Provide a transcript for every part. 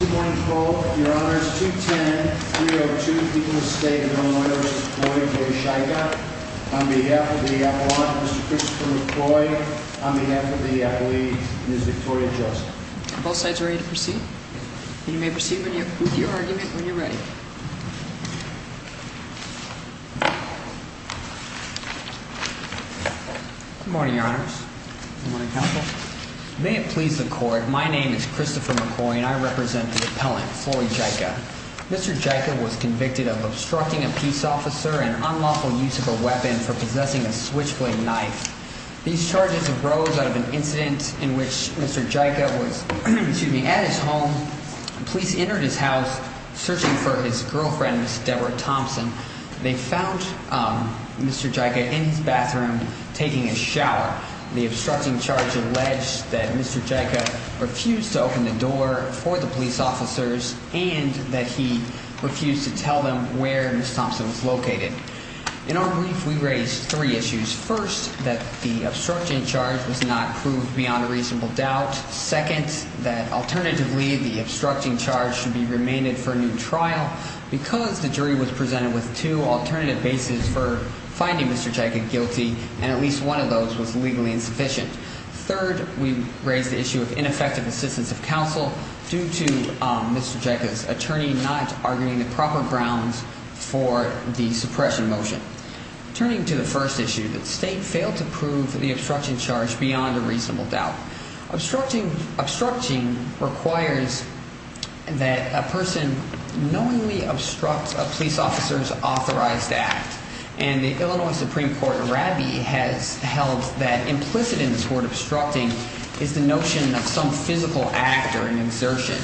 Good morning, your honors. 210-302, people of the state and their own lawyers, McCoy v. Czajka, on behalf of the Appellant, Mr. Christopher McCoy, on behalf of the plea, Ms. Victoria Joseph. Are both sides ready to proceed? You may proceed with your argument when you're ready. Good morning, your honors. Good morning, counsel. May it please the court, my name is Christopher McCoy and I represent the Appellant, Florey Czajka. Mr. Czajka was convicted of obstructing a peace officer and unlawful use of a weapon for possessing a switchblade knife. These charges arose out of an incident in which Mr. Czajka was at his home, police entered his house searching for his girlfriend, Ms. Deborah Thompson. They found Mr. Czajka in his bathroom taking a shower. The obstructing charge alleged that Mr. Czajka refused to open the door for the police officers and that he refused to tell them where Ms. Thompson was located. In our brief, we raised three issues. First, that the obstructing charge was not proved beyond a reasonable doubt. Second, that alternatively, the obstructing charge should be remained for a new trial because the jury was presented with two alternative bases for finding Mr. Czajka guilty and at least one of those was legally insufficient. Third, we raised the issue of ineffective assistance of counsel due to Mr. Czajka's attorney not arguing the proper grounds for the suppression motion. Turning to the first issue, the state failed to prove the obstruction charge beyond a reasonable doubt. Obstructing requires that a person knowingly obstructs a police officer's authorized act. And the Illinois Supreme Court, RABI, has held that implicit in this word obstructing is the notion of some physical act or an exertion.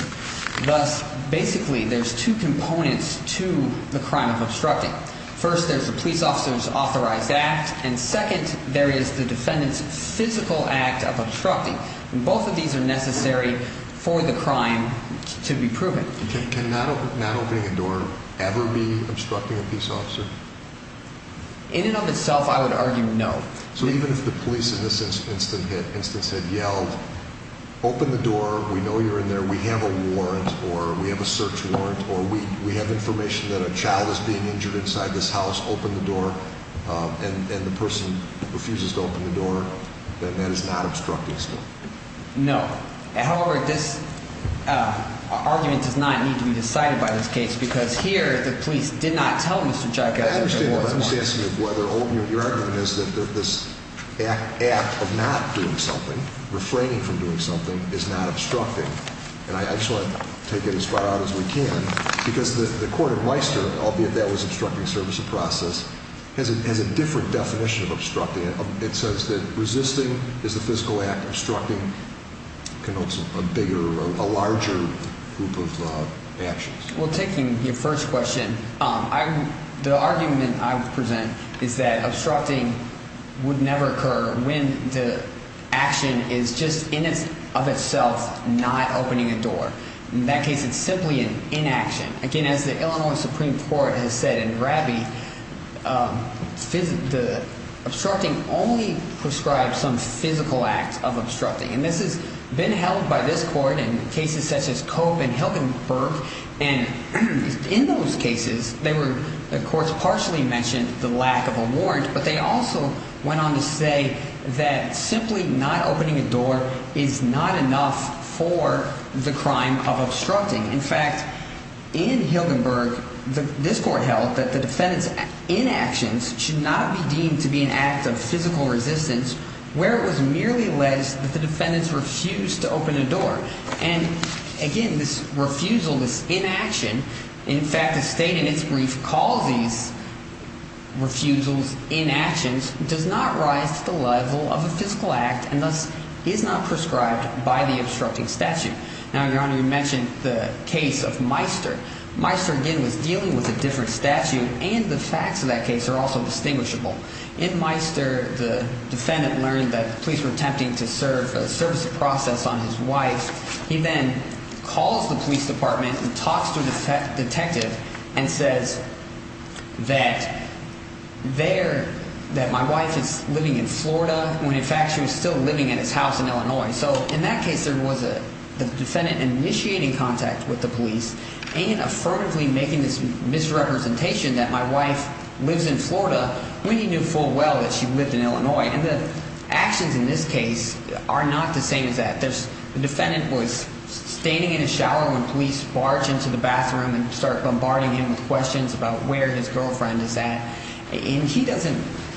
Thus, basically, there's two components to the crime of obstructing. First, there's a police officer's authorized act. And second, there is the defendant's physical act of obstructing. And both of these are necessary for the crime to be proven. Can not opening a door ever be obstructing a police officer? In and of itself, I would argue no. So even if the police in this instance had yelled, open the door, we know you're in there, we have a warrant, or we have a search warrant, or we have information that a child is being injured inside this house, open the door, and the person refuses to open the door, then that is not obstructing still. No. However, this argument does not need to be decided by this case because here the police did not tell Mr. Czajka that there was a warrant. Your argument is that this act of not doing something, refraining from doing something, is not obstructing. And I just want to take it as far out as we can because the court in Meister, albeit that was obstructing service of process, has a different definition of obstructing. It says that resisting is a physical act. Obstructing connotes a bigger, a larger group of actions. Well, taking your first question, the argument I would present is that obstructing would never occur when the action is just in and of itself not opening a door. In that case, it's simply an inaction. Again, as the Illinois Supreme Court has said in Rabbie, the obstructing only prescribes some physical act of obstructing. And this has been held by this court in cases such as Cope and Hilgenberg. And in those cases, they were, of course, partially mentioned the lack of a warrant. But they also went on to say that simply not opening a door is not enough for the crime of obstructing. In fact, in Hilgenberg, this court held that the defendant's inactions should not be deemed to be an act of physical resistance where it was merely alleged that the defendants refused to open a door. And again, this refusal, this inaction, in fact, the state in its brief calls these refusals inactions does not rise to the level of a physical act and thus is not prescribed by the obstructing statute. Now, Your Honor, you mentioned the case of Meister. Meister, again, was dealing with a different statute. And the facts of that case are also distinguishable. In Meister, the defendant learned that the police were attempting to serve a service of process on his wife. He then calls the police department and talks to a detective and says that there that my wife is living in Florida when, in fact, she was still living at his house in Illinois. So in that case, there was a defendant initiating contact with the police and affirmatively making this misrepresentation that my wife lives in Florida when he knew full well that she lived in Illinois. And the actions in this case are not the same as that. The defendant was standing in his shower when police barged into the bathroom and started bombarding him with questions about where his girlfriend is at. And he doesn't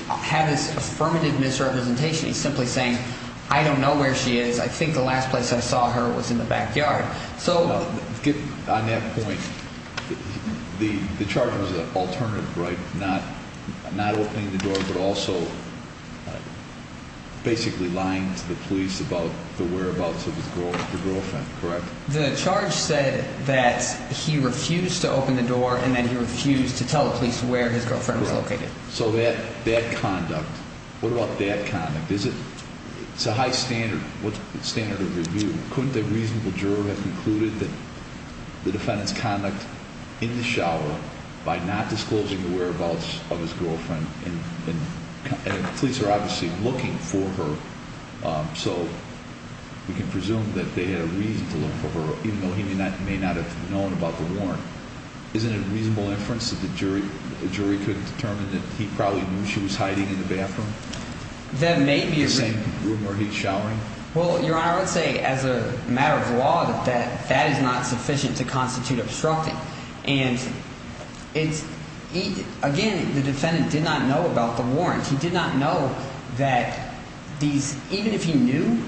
have this affirmative misrepresentation. He's simply saying, I don't know where she is. I think the last place I saw her was in the backyard. So on that point, the charge was an alternative, right? Not opening the door, but also basically lying to the police about the whereabouts of his girlfriend, correct? The charge said that he refused to open the door and then he refused to tell the police where his girlfriend was located. So that conduct, what about that conduct? It's a high standard. What's the standard of review? Couldn't a reasonable juror have concluded that the defendant's conduct in the shower by not disclosing the whereabouts of his girlfriend and police are obviously looking for her? So we can presume that they had a reason to look for her, even though he may not have known about the warrant. Isn't it a reasonable inference that the jury could determine that he probably knew she was hiding in the bathroom? That may be a reason. In the same room where he's showering? Well, Your Honor, I would say as a matter of law that that is not sufficient to constitute obstructing. And again, the defendant did not know about the warrant. He did not know that these even if he knew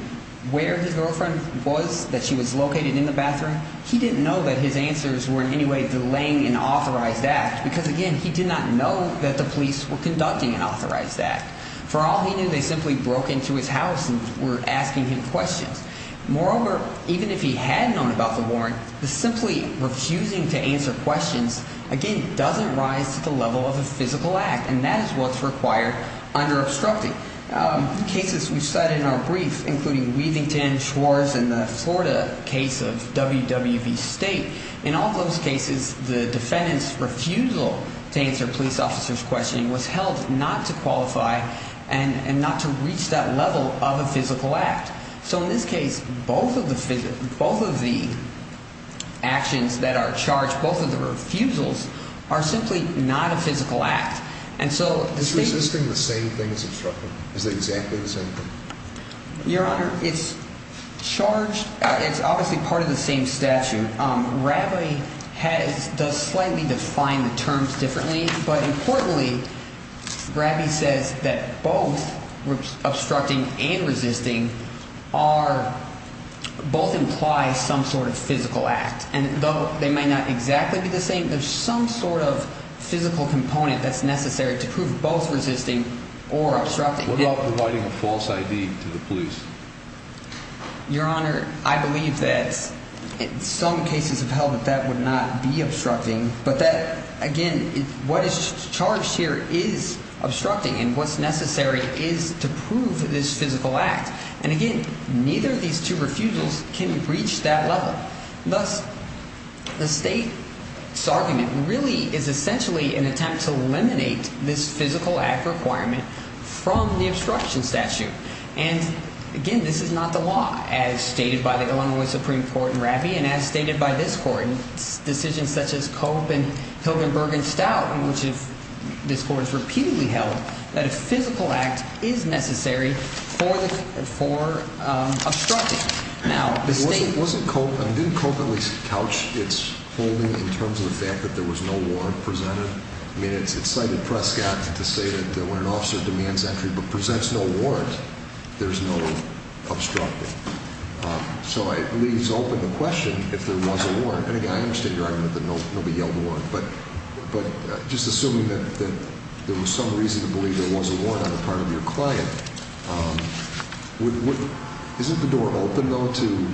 where his girlfriend was, that she was located in the bathroom. He didn't know that his answers were in any way delaying an authorized act because, again, he did not know that the police were conducting an authorized act. For all he knew, they simply broke into his house and were asking him questions. Moreover, even if he had known about the warrant, the simply refusing to answer questions, again, doesn't rise to the level of a physical act. And that is what's required under obstructing. Cases we cited in our brief, including Weavington, Schwartz, and the Florida case of WWV State. In all those cases, the defendant's refusal to answer police officers' questioning was held not to qualify and not to reach that level of a physical act. So in this case, both of the actions that are charged, both of the refusals, are simply not a physical act. And so the state… Is resisting the same thing as obstructing? Is it exactly the same thing? Your Honor, it's charged. It's obviously part of the same statute. Bradley has…does slightly define the terms differently. But importantly, Bradley says that both obstructing and resisting are…both imply some sort of physical act. And though they may not exactly be the same, there's some sort of physical component that's necessary to prove both resisting or obstructing. What about providing a false ID to the police? Your Honor, I believe that in some cases of held that that would not be obstructing. But that, again, what is charged here is obstructing. And what's necessary is to prove this physical act. And, again, neither of these two refusals can reach that level. Thus, the state's argument really is essentially an attempt to eliminate this physical act requirement from the obstruction statute. And, again, this is not the law as stated by the Illinois Supreme Court in Raffey and as stated by this court in decisions such as Cope and Hilgenberg and Stout, in which this court has repeatedly held that a physical act is necessary for obstructing. Now, the state… It wasn't Cope. I mean, didn't Cope at least couch its holding in terms of the fact that there was no warrant presented? I mean, it's cited Prescott to say that when an officer demands entry but presents no warrant, there's no obstructing. So it leaves open the question if there was a warrant. And, again, I understand your argument that nobody yelled a warrant. But just assuming that there was some reason to believe there was a warrant on the part of your client, isn't the door open, though, to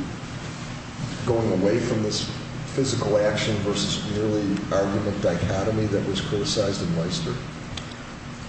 going away from this physical action versus merely argument dichotomy that was criticized in Weister?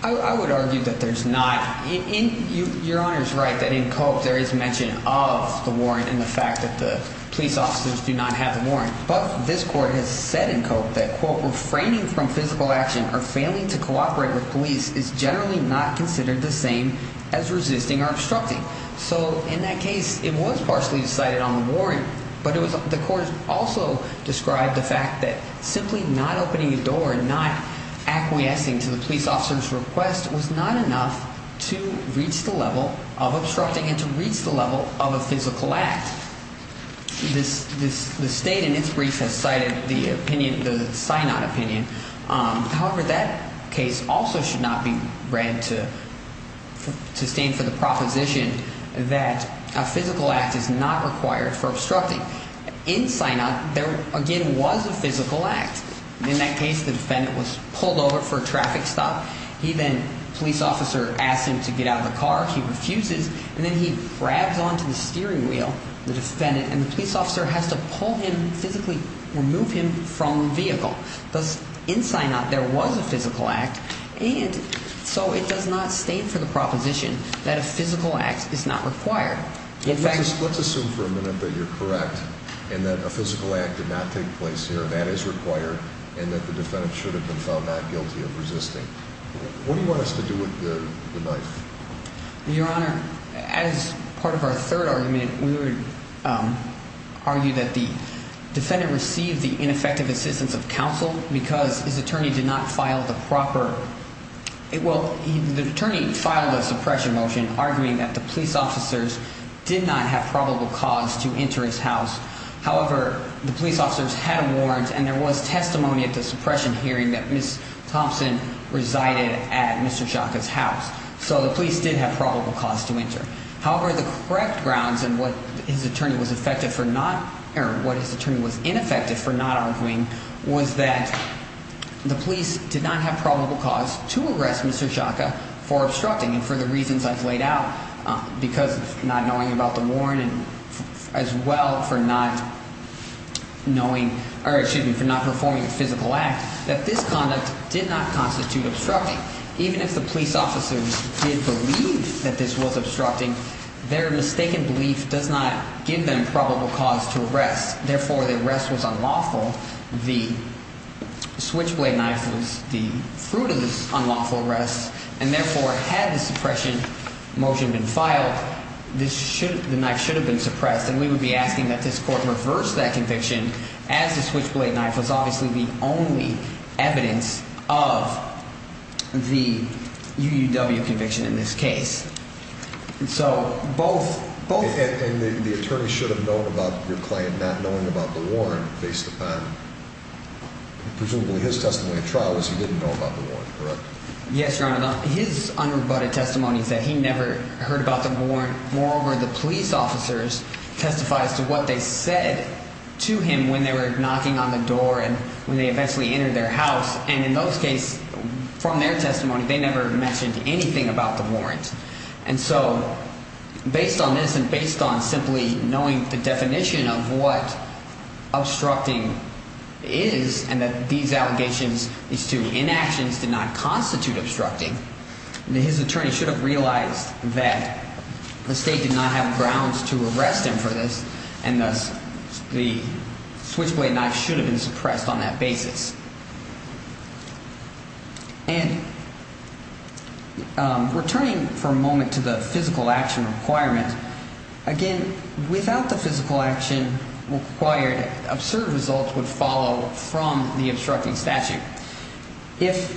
I would argue that there's not. Your Honor is right that in Cope there is mention of the warrant and the fact that the police officers do not have the warrant. But this court has said in Cope that, quote, refraining from physical action or failing to cooperate with police is generally not considered the same as resisting or obstructing. So in that case, it was partially decided on the warrant, but the court also described the fact that simply not opening a door, not acquiescing to the police officer's request was not enough to reach the level of obstructing and to reach the level of a physical act. This state in its brief has cited the opinion, the Synod opinion. However, that case also should not be read to stand for the proposition that a physical act is not required for obstructing. In Synod, there, again, was a physical act. In that case, the defendant was pulled over for a traffic stop. He then, police officer asked him to get out of the car. He refuses. And then he grabs onto the steering wheel, the defendant, and the police officer has to pull him, physically remove him from the vehicle. Thus, in Synod, there was a physical act. And so it does not stand for the proposition that a physical act is not required. In fact, let's assume for a minute that you're correct and that a physical act did not take place here. That is required and that the defendant should have been found not guilty of resisting. What do you want us to do with the knife? Your Honor, as part of our third argument, we would argue that the defendant received the ineffective assistance of counsel because his attorney did not file the proper – well, the attorney filed a suppression motion arguing that the police officers did not have probable cause to enter his house. However, the police officers had a warrant and there was testimony at the suppression hearing that Ms. Thompson resided at Mr. Shaka's house. So the police did have probable cause to enter. However, the correct grounds and what his attorney was effective for not – or what his attorney was ineffective for not arguing was that the police did not have probable cause to arrest Mr. Shaka for obstructing. And for the reasons I've laid out, because of not knowing about the warrant and as well for not knowing – or excuse me, for not performing a physical act, that this conduct did not constitute obstructing. Even if the police officers did believe that this was obstructing, their mistaken belief does not give them probable cause to arrest. Therefore, the arrest was unlawful. The switchblade knife was the fruit of this unlawful arrest. And therefore, had the suppression motion been filed, this should – the knife should have been suppressed. And we would be asking that this court reverse that conviction as the switchblade knife was obviously the only evidence of the UUW conviction in this case. And so both – both – And the attorney should have known about your claim not knowing about the warrant based upon presumably his testimony at trial was he didn't know about the warrant, correct? Yes, Your Honor. His unrebutted testimony is that he never heard about the warrant. Moreover, the police officers testified as to what they said to him when they were knocking on the door and when they eventually entered their house. And in those cases, from their testimony, they never mentioned anything about the warrant. And so based on this and based on simply knowing the definition of what obstructing is and that these allegations as to inactions did not constitute obstructing, his attorney should have realized that the state did not have grounds to arrest him for this. And thus the switchblade knife should have been suppressed on that basis. And returning for a moment to the physical action requirement, again, without the physical action required, absurd results would follow from the obstructing statute. If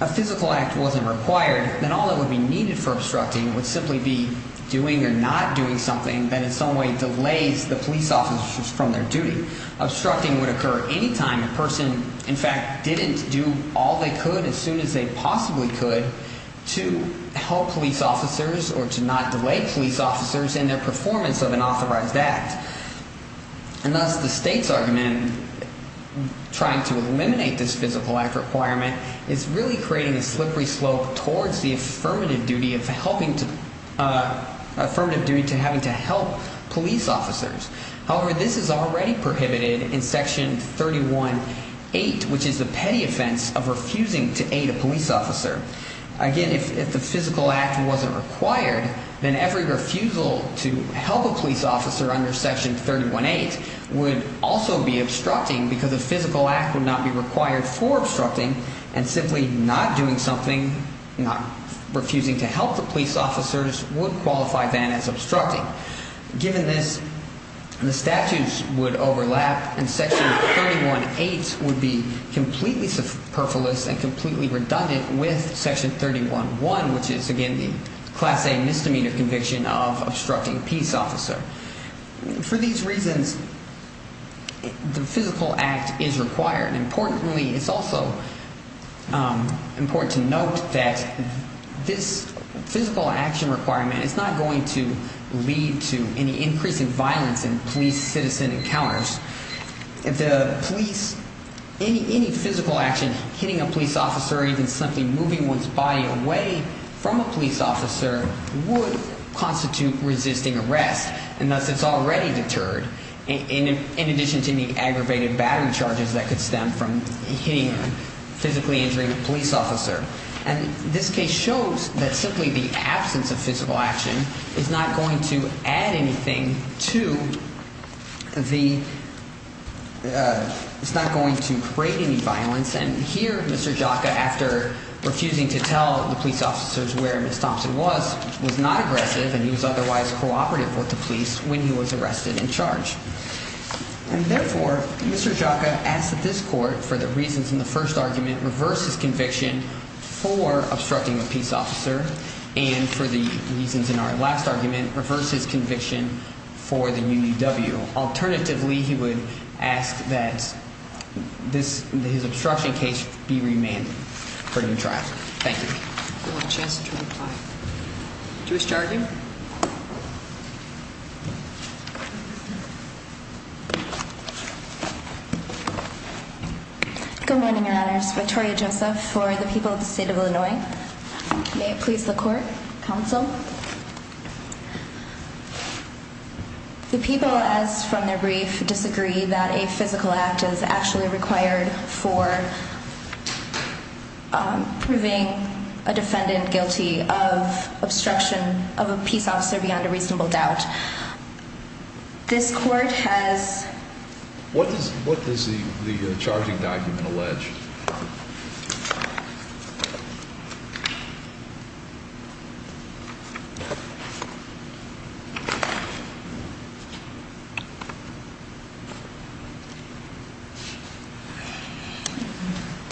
a physical act wasn't required, then all that would be needed for obstructing would simply be doing or not doing something that in some way delays the police officers from their duty. Obstructing would occur any time a person, in fact, didn't do all they could as soon as they possibly could to help police officers or to not delay police officers in their performance of an authorized act. And thus the state's argument trying to eliminate this physical act requirement is really creating a slippery slope towards the affirmative duty of helping to – affirmative duty to having to help police officers. However, this is already prohibited in Section 31.8, which is the petty offense of refusing to aid a police officer. Again, if the physical act wasn't required, then every refusal to help a police officer under Section 31.8 would also be obstructing because a physical act would not be required for obstructing. And simply not doing something, not refusing to help the police officers would qualify then as obstructing. Given this, the statutes would overlap, and Section 31.8 would be completely superfluous and completely redundant with Section 31.1, which is, again, the class A misdemeanor conviction of obstructing a peace officer. For these reasons, the physical act is required. And importantly, it's also important to note that this physical action requirement is not going to lead to any increase in violence in police-citizen encounters. If the police – any physical action, hitting a police officer or even simply moving one's body away from a police officer would constitute resisting arrest, and thus it's already deterred, in addition to the aggravated battery charges that could stem from hitting a physically injured police officer. And this case shows that simply the absence of physical action is not going to add anything to the – it's not going to create any violence. And here Mr. Jaca, after refusing to tell the police officers where Ms. Thompson was, was not aggressive and he was otherwise cooperative with the police when he was arrested and charged. And therefore, Mr. Jaca asked that this court, for the reasons in the first argument, reverse his conviction for obstructing a peace officer, and for the reasons in our last argument, reverse his conviction for the UDW. Alternatively, he would ask that this – his obstruction case be remanded for new trial. Thank you. Do you want a chance to reply? Do you wish to argue? Good morning, Your Honors. Victoria Joseph for the people of the state of Illinois. May it please the court. Counsel. The people, as from their brief, disagree that a physical act is actually required for proving a defendant guilty of obstruction of a peace officer beyond a reasonable doubt. This court has – What does the charging document allege?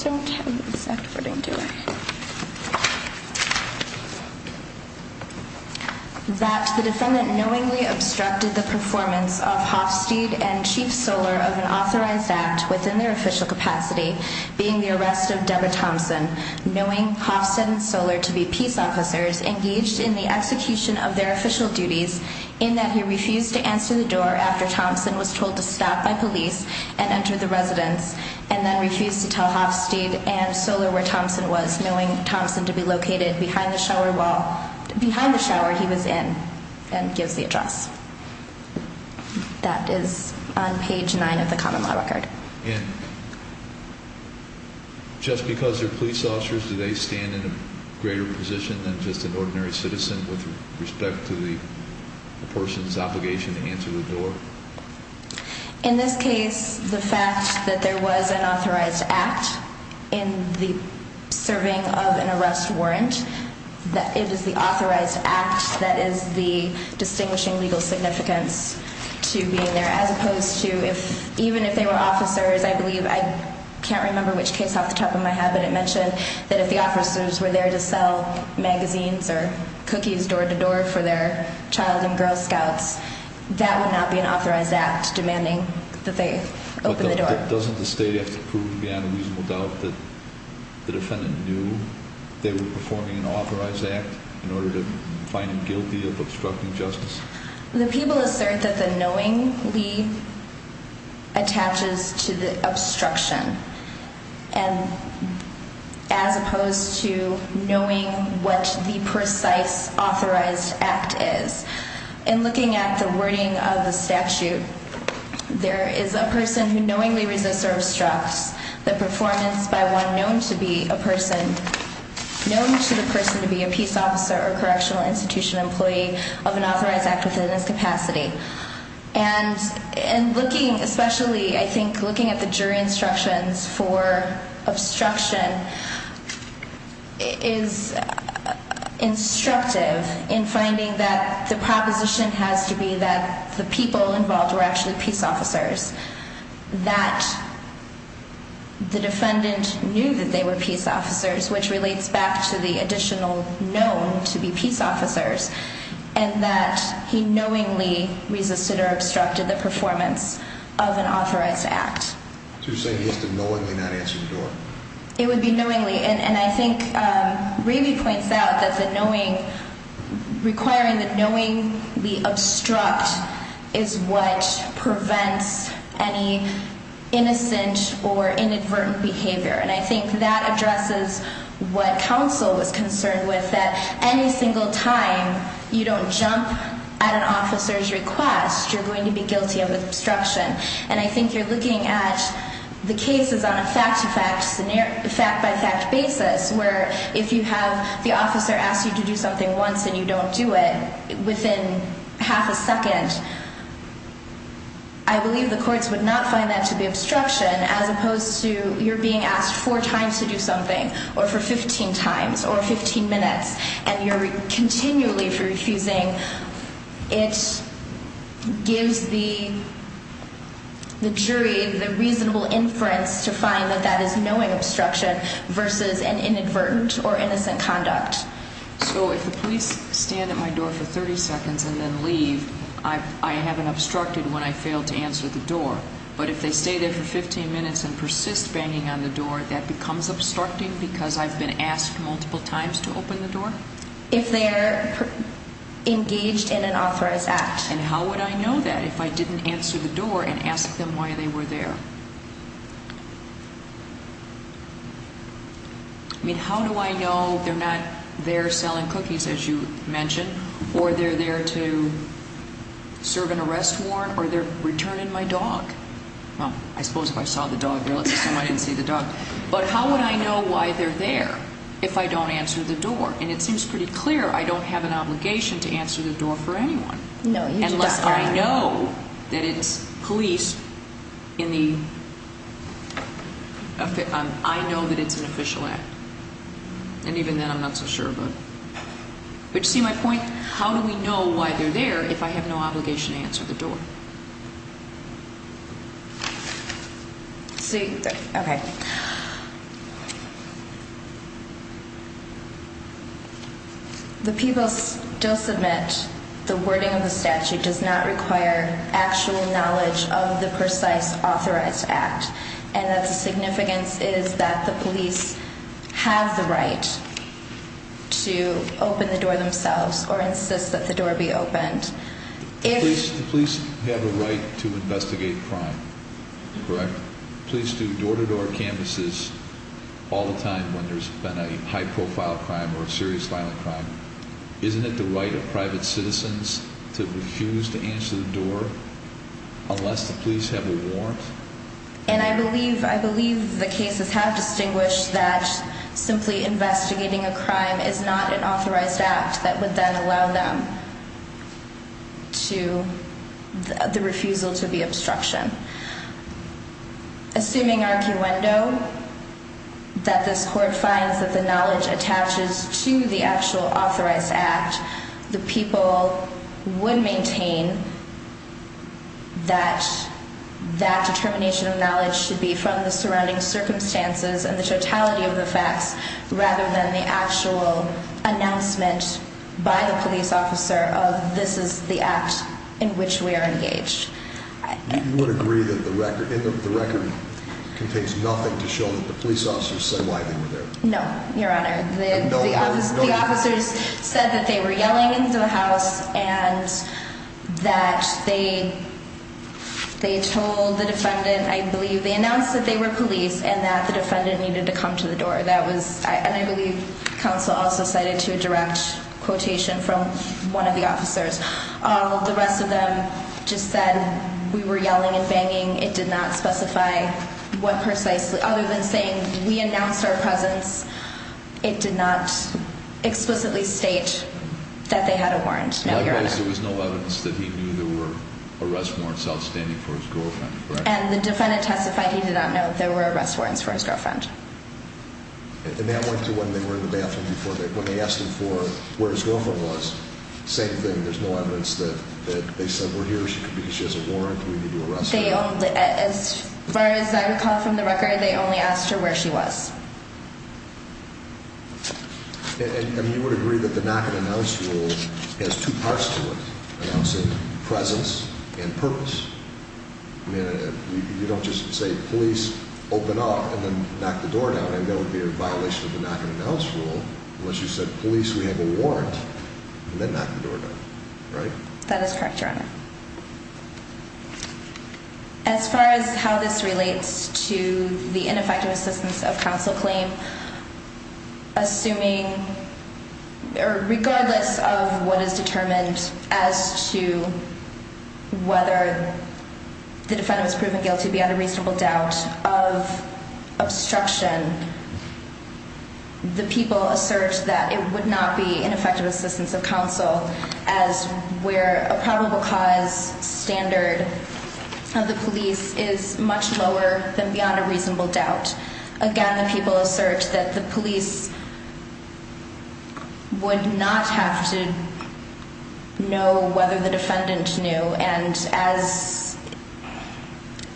I don't have the exact wording, do I? That the defendant knowingly obstructed the performance of Hofstede and Chief Soller of an authorized act within their official capacity, being the arrest of Deborah Thompson, knowing Hofstede and Soller to be peace officers, engaged in the execution of their official duties, in that he refused to answer the door after Thompson was told to stop by police and enter the residence, and then refused to tell Hofstede and Soller where Thompson was, knowing Thompson to be located behind the shower wall – behind the shower he was in, and gives the address. That is on page 9 of the common law record. And just because they're police officers, do they stand in a greater position than just an ordinary citizen with respect to the person's obligation to answer the door? In this case, the fact that there was an authorized act in the serving of an arrest warrant, that it is the authorized act that is the distinguishing legal significance to being there, as opposed to if – even if they were officers, I believe – I can't remember which case off the top of my head, but it mentioned that if the officers were there to sell magazines or cookies door-to-door for their child and Girl Scouts, that would not be an authorized act. But doesn't the state have to prove beyond a reasonable doubt that the defendant knew they were performing an authorized act in order to find him guilty of obstructing justice? The people assert that the knowingly attaches to the obstruction, as opposed to knowing what the precise authorized act is. In looking at the wording of the statute, there is a person who knowingly resists or obstructs the performance by one known to be a person – known to the person to be a peace officer or correctional institution employee of an authorized act within his capacity. And looking – especially, I think, looking at the jury instructions for obstruction is instructive in finding that the proposition has to be that the people involved were actually peace officers, that the defendant knew that they were peace officers, which relates back to the additional known to be peace officers. And that he knowingly resisted or obstructed the performance of an authorized act. So you're saying he has to knowingly not answer the door? It would be knowingly. And I think Ravy points out that requiring the knowingly obstruct is what prevents any innocent or inadvertent behavior. And I think that addresses what counsel was concerned with, that any single time you don't jump at an officer's request, you're going to be guilty of obstruction. And I think you're looking at the cases on a fact-by-fact basis, where if you have the officer ask you to do something once and you don't do it, within half a second, I believe the courts would not find that to be obstruction. As opposed to you're being asked four times to do something, or for 15 times, or 15 minutes, and you're continually refusing, it gives the jury the reasonable inference to find that that is knowing obstruction versus an inadvertent or innocent conduct. So if the police stand at my door for 30 seconds and then leave, I haven't obstructed when I failed to answer the door. But if they stay there for 15 minutes and persist banging on the door, that becomes obstructing because I've been asked multiple times to open the door? If they're engaged in an authorized act. And how would I know that if I didn't answer the door and ask them why they were there? I mean, how do I know they're not there selling cookies, as you mentioned, or they're there to serve an arrest warrant, or they're returning my dog? Well, I suppose if I saw the dog there, let's assume I didn't see the dog. But how would I know why they're there if I don't answer the door? And it seems pretty clear I don't have an obligation to answer the door for anyone. Unless I know that it's police in the – I know that it's an official act. And even then, I'm not so sure about it. But you see my point? How do we know why they're there if I have no obligation to answer the door? The people still submit the wording of the statute does not require actual knowledge of the precise authorized act, and that the significance is that the police have the right to open the door themselves or insist that the door be opened. The police have a right to investigate crime, correct? Police do door-to-door canvases all the time when there's been a high-profile crime or a serious violent crime. Isn't it the right of private citizens to refuse to answer the door unless the police have a warrant? And I believe the cases have distinguished that simply investigating a crime is not an authorized act that would then allow them to – the refusal to be obstruction. Assuming arguendo, that this court finds that the knowledge attaches to the actual authorized act, the people would maintain that that determination of knowledge should be from the surrounding circumstances and the totality of the facts rather than the actual announcement by the police officer of this is the act in which we are engaged. You would agree that the record contains nothing to show that the police officers say why they were there? No, Your Honor. The officers said that they were yelling into the house and that they told the defendant – I believe they announced that they were police and that the defendant needed to come to the door. And I believe counsel also cited to a direct quotation from one of the officers. The rest of them just said we were yelling and banging. It did not specify what precisely – other than saying we announced our presence, it did not explicitly state that they had a warrant, no, Your Honor. In other words, there was no evidence that he knew there were arrest warrants outstanding for his girlfriend, correct? And the defendant testified he did not know there were arrest warrants for his girlfriend. And that went to when they were in the bathroom before – when they asked him for where his girlfriend was, same thing. There's no evidence that they said we're here because she has a warrant and we need to arrest her. As far as I recall from the record, they only asked her where she was. And you would agree that the knock-and-announce rule has two parts to it, announcing presence and purpose? I mean, you don't just say police, open up, and then knock the door down. I mean, that would be a violation of the knock-and-announce rule unless you said police, we have a warrant, and then knock the door down, right? That is correct, Your Honor. As far as how this relates to the ineffective assistance of counsel claim, assuming – or regardless of what is determined as to whether the defendant was proven guilty beyond a reasonable doubt of obstruction, the people assert that it would not be ineffective assistance of counsel as where a probable cause standard of the police is much lower than beyond a reasonable doubt. Again, the people assert that the police would not have to know whether the defendant knew, and as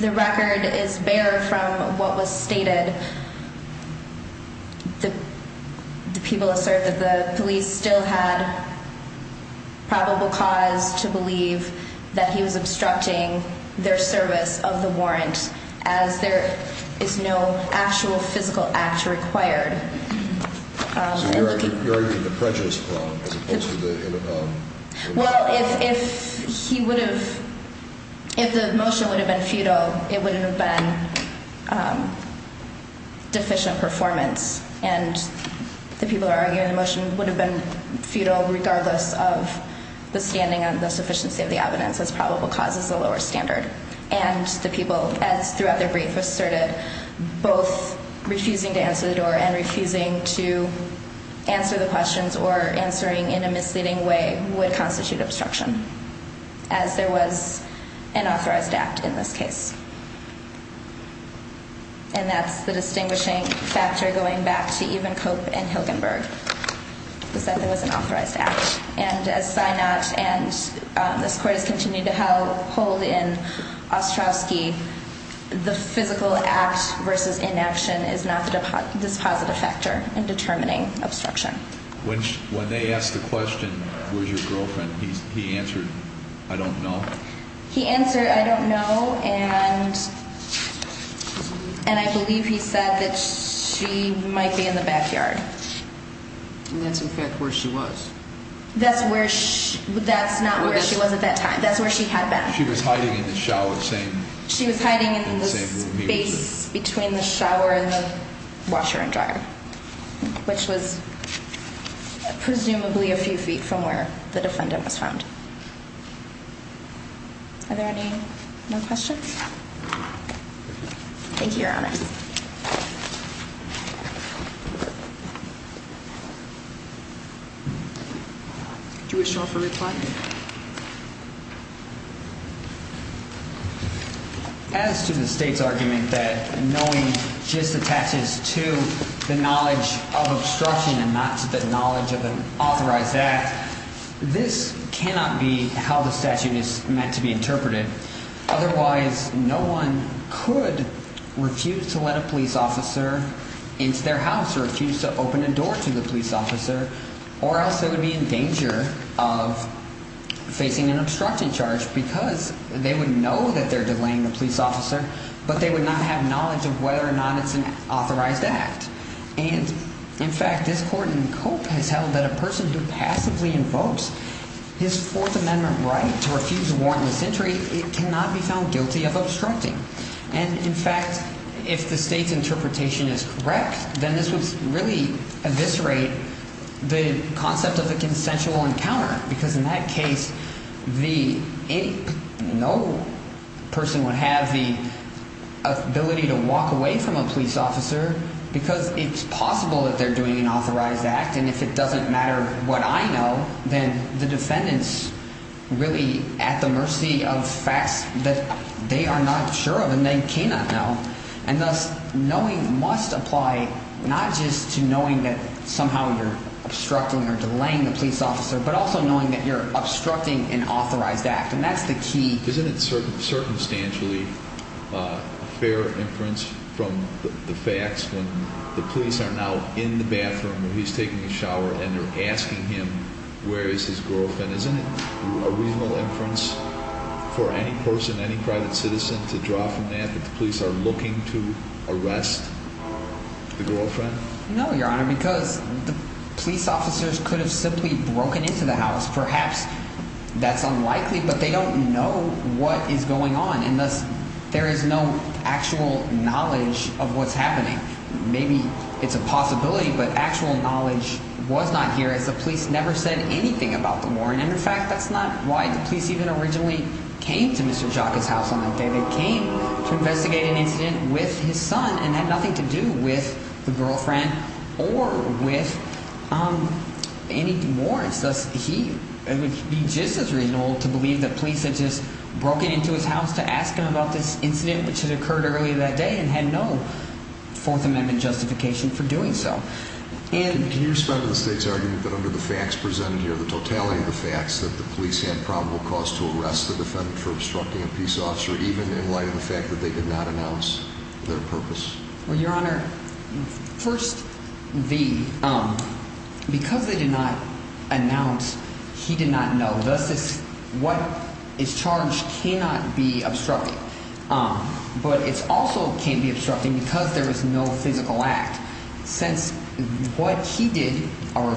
the record is bare from what was stated, the people assert that the police still had probable cause to believe that he was obstructing their service of the warrant, as there is no actual physical act required. So you're arguing the prejudice claim as opposed to the – as there was an authorized act in this case. And that's the distinguishing factor going back to Evenkope and Hilgenberg, is that there was an authorized act, and as Synod and this court has continued to hold in Ostrowski, the people assert that it would not be ineffective assistance of counsel as where a probable cause standard of the police is much lower than beyond a reasonable doubt of obstruction. The physical act versus inaction is not this positive factor in determining obstruction. When they asked the question, where's your girlfriend, he answered, I don't know. He answered, I don't know, and I believe he said that she might be in the backyard. And that's, in fact, where she was. That's where – that's not where she was at that time. That's where she had been. She was hiding in the shower, same – She was hiding in the space between the shower and the washer and dryer, which was presumably a few feet from where the defendant was found. Are there any more questions? Thank you, Your Honor. Do you wish to offer reply? As to the State's argument that knowing just attaches to the knowledge of obstruction and not to the knowledge of an authorized act, this cannot be how the statute is meant to be interpreted. Otherwise, no one could refuse to let a police officer into their house or refuse to open a door to the police officer. Or else they would be in danger of facing an obstruction charge because they would know that they're delaying the police officer, but they would not have knowledge of whether or not it's an authorized act. And, in fact, this court in Cope has held that a person who passively invokes his Fourth Amendment right to refuse a warrantless entry cannot be found guilty of obstructing. And, in fact, if the State's interpretation is correct, then this would really eviscerate the concept of a consensual encounter. Because in that case, no person would have the ability to walk away from a police officer because it's possible that they're doing an authorized act. And if it doesn't matter what I know, then the defendant's really at the mercy of facts that they are not sure of and they cannot know. And thus, knowing must apply not just to knowing that somehow you're obstructing or delaying the police officer, but also knowing that you're obstructing an authorized act. And that's the key. Isn't it circumstantially a fair inference from the facts when the police are now in the bathroom where he's taking a shower and they're asking him where is his girlfriend? Isn't it a reasonable inference for any person, any private citizen, to draw from that that the police are looking to arrest the girlfriend? No, Your Honor, because the police officers could have simply broken into the house. Perhaps that's unlikely, but they don't know what is going on and thus there is no actual knowledge of what's happening. Maybe it's a possibility, but actual knowledge was not here as the police never said anything about the warrant. And in fact, that's not why the police even originally came to Mr. Jacque's house on that day. They came to investigate an incident with his son and had nothing to do with the girlfriend or with any warrants. It would be just as reasonable to believe that police had just broken into his house to ask him about this incident which had occurred earlier that day and had no Fourth Amendment justification for doing so. Can you respond to the state's argument that under the facts presented here, the totality of the facts, that the police had probable cause to arrest the defendant for obstructing a peace officer even in light of the fact that they did not announce their purpose? Well, Your Honor, first, because they did not announce, he did not know. Thus, what is charged cannot be obstructed, but it also can't be obstructed because there is no physical act. Since what he did are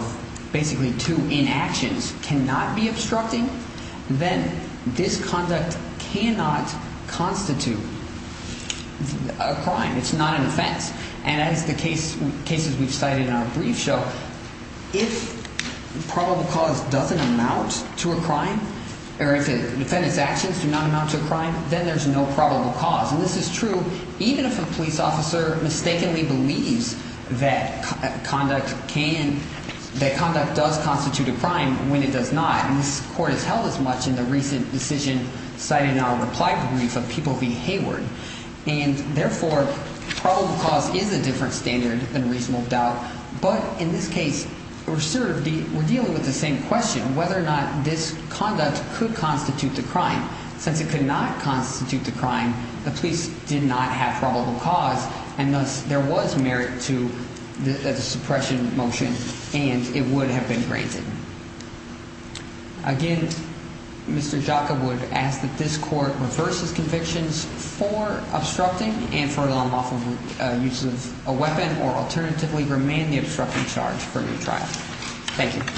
basically two inactions cannot be obstructing, then this conduct cannot constitute a crime. It's not an offense. And as the cases we've cited in our brief show, if probable cause doesn't amount to a crime or if a defendant's actions do not amount to a crime, then there's no probable cause. And this is true even if a police officer mistakenly believes that conduct can – that conduct does constitute a crime when it does not. And this court has held as much in the recent decision cited in our reply brief of People v. Hayward. And therefore, probable cause is a different standard than reasonable doubt. But in this case, we're dealing with the same question, whether or not this conduct could constitute a crime. Since it could not constitute a crime, the police did not have probable cause, and thus there was merit to the suppression motion and it would have been granted. Again, Mr. Jocka would ask that this court reverse its convictions for obstructing and for the unlawful use of a weapon or alternatively remain the obstructing charge for the trial. Thank you.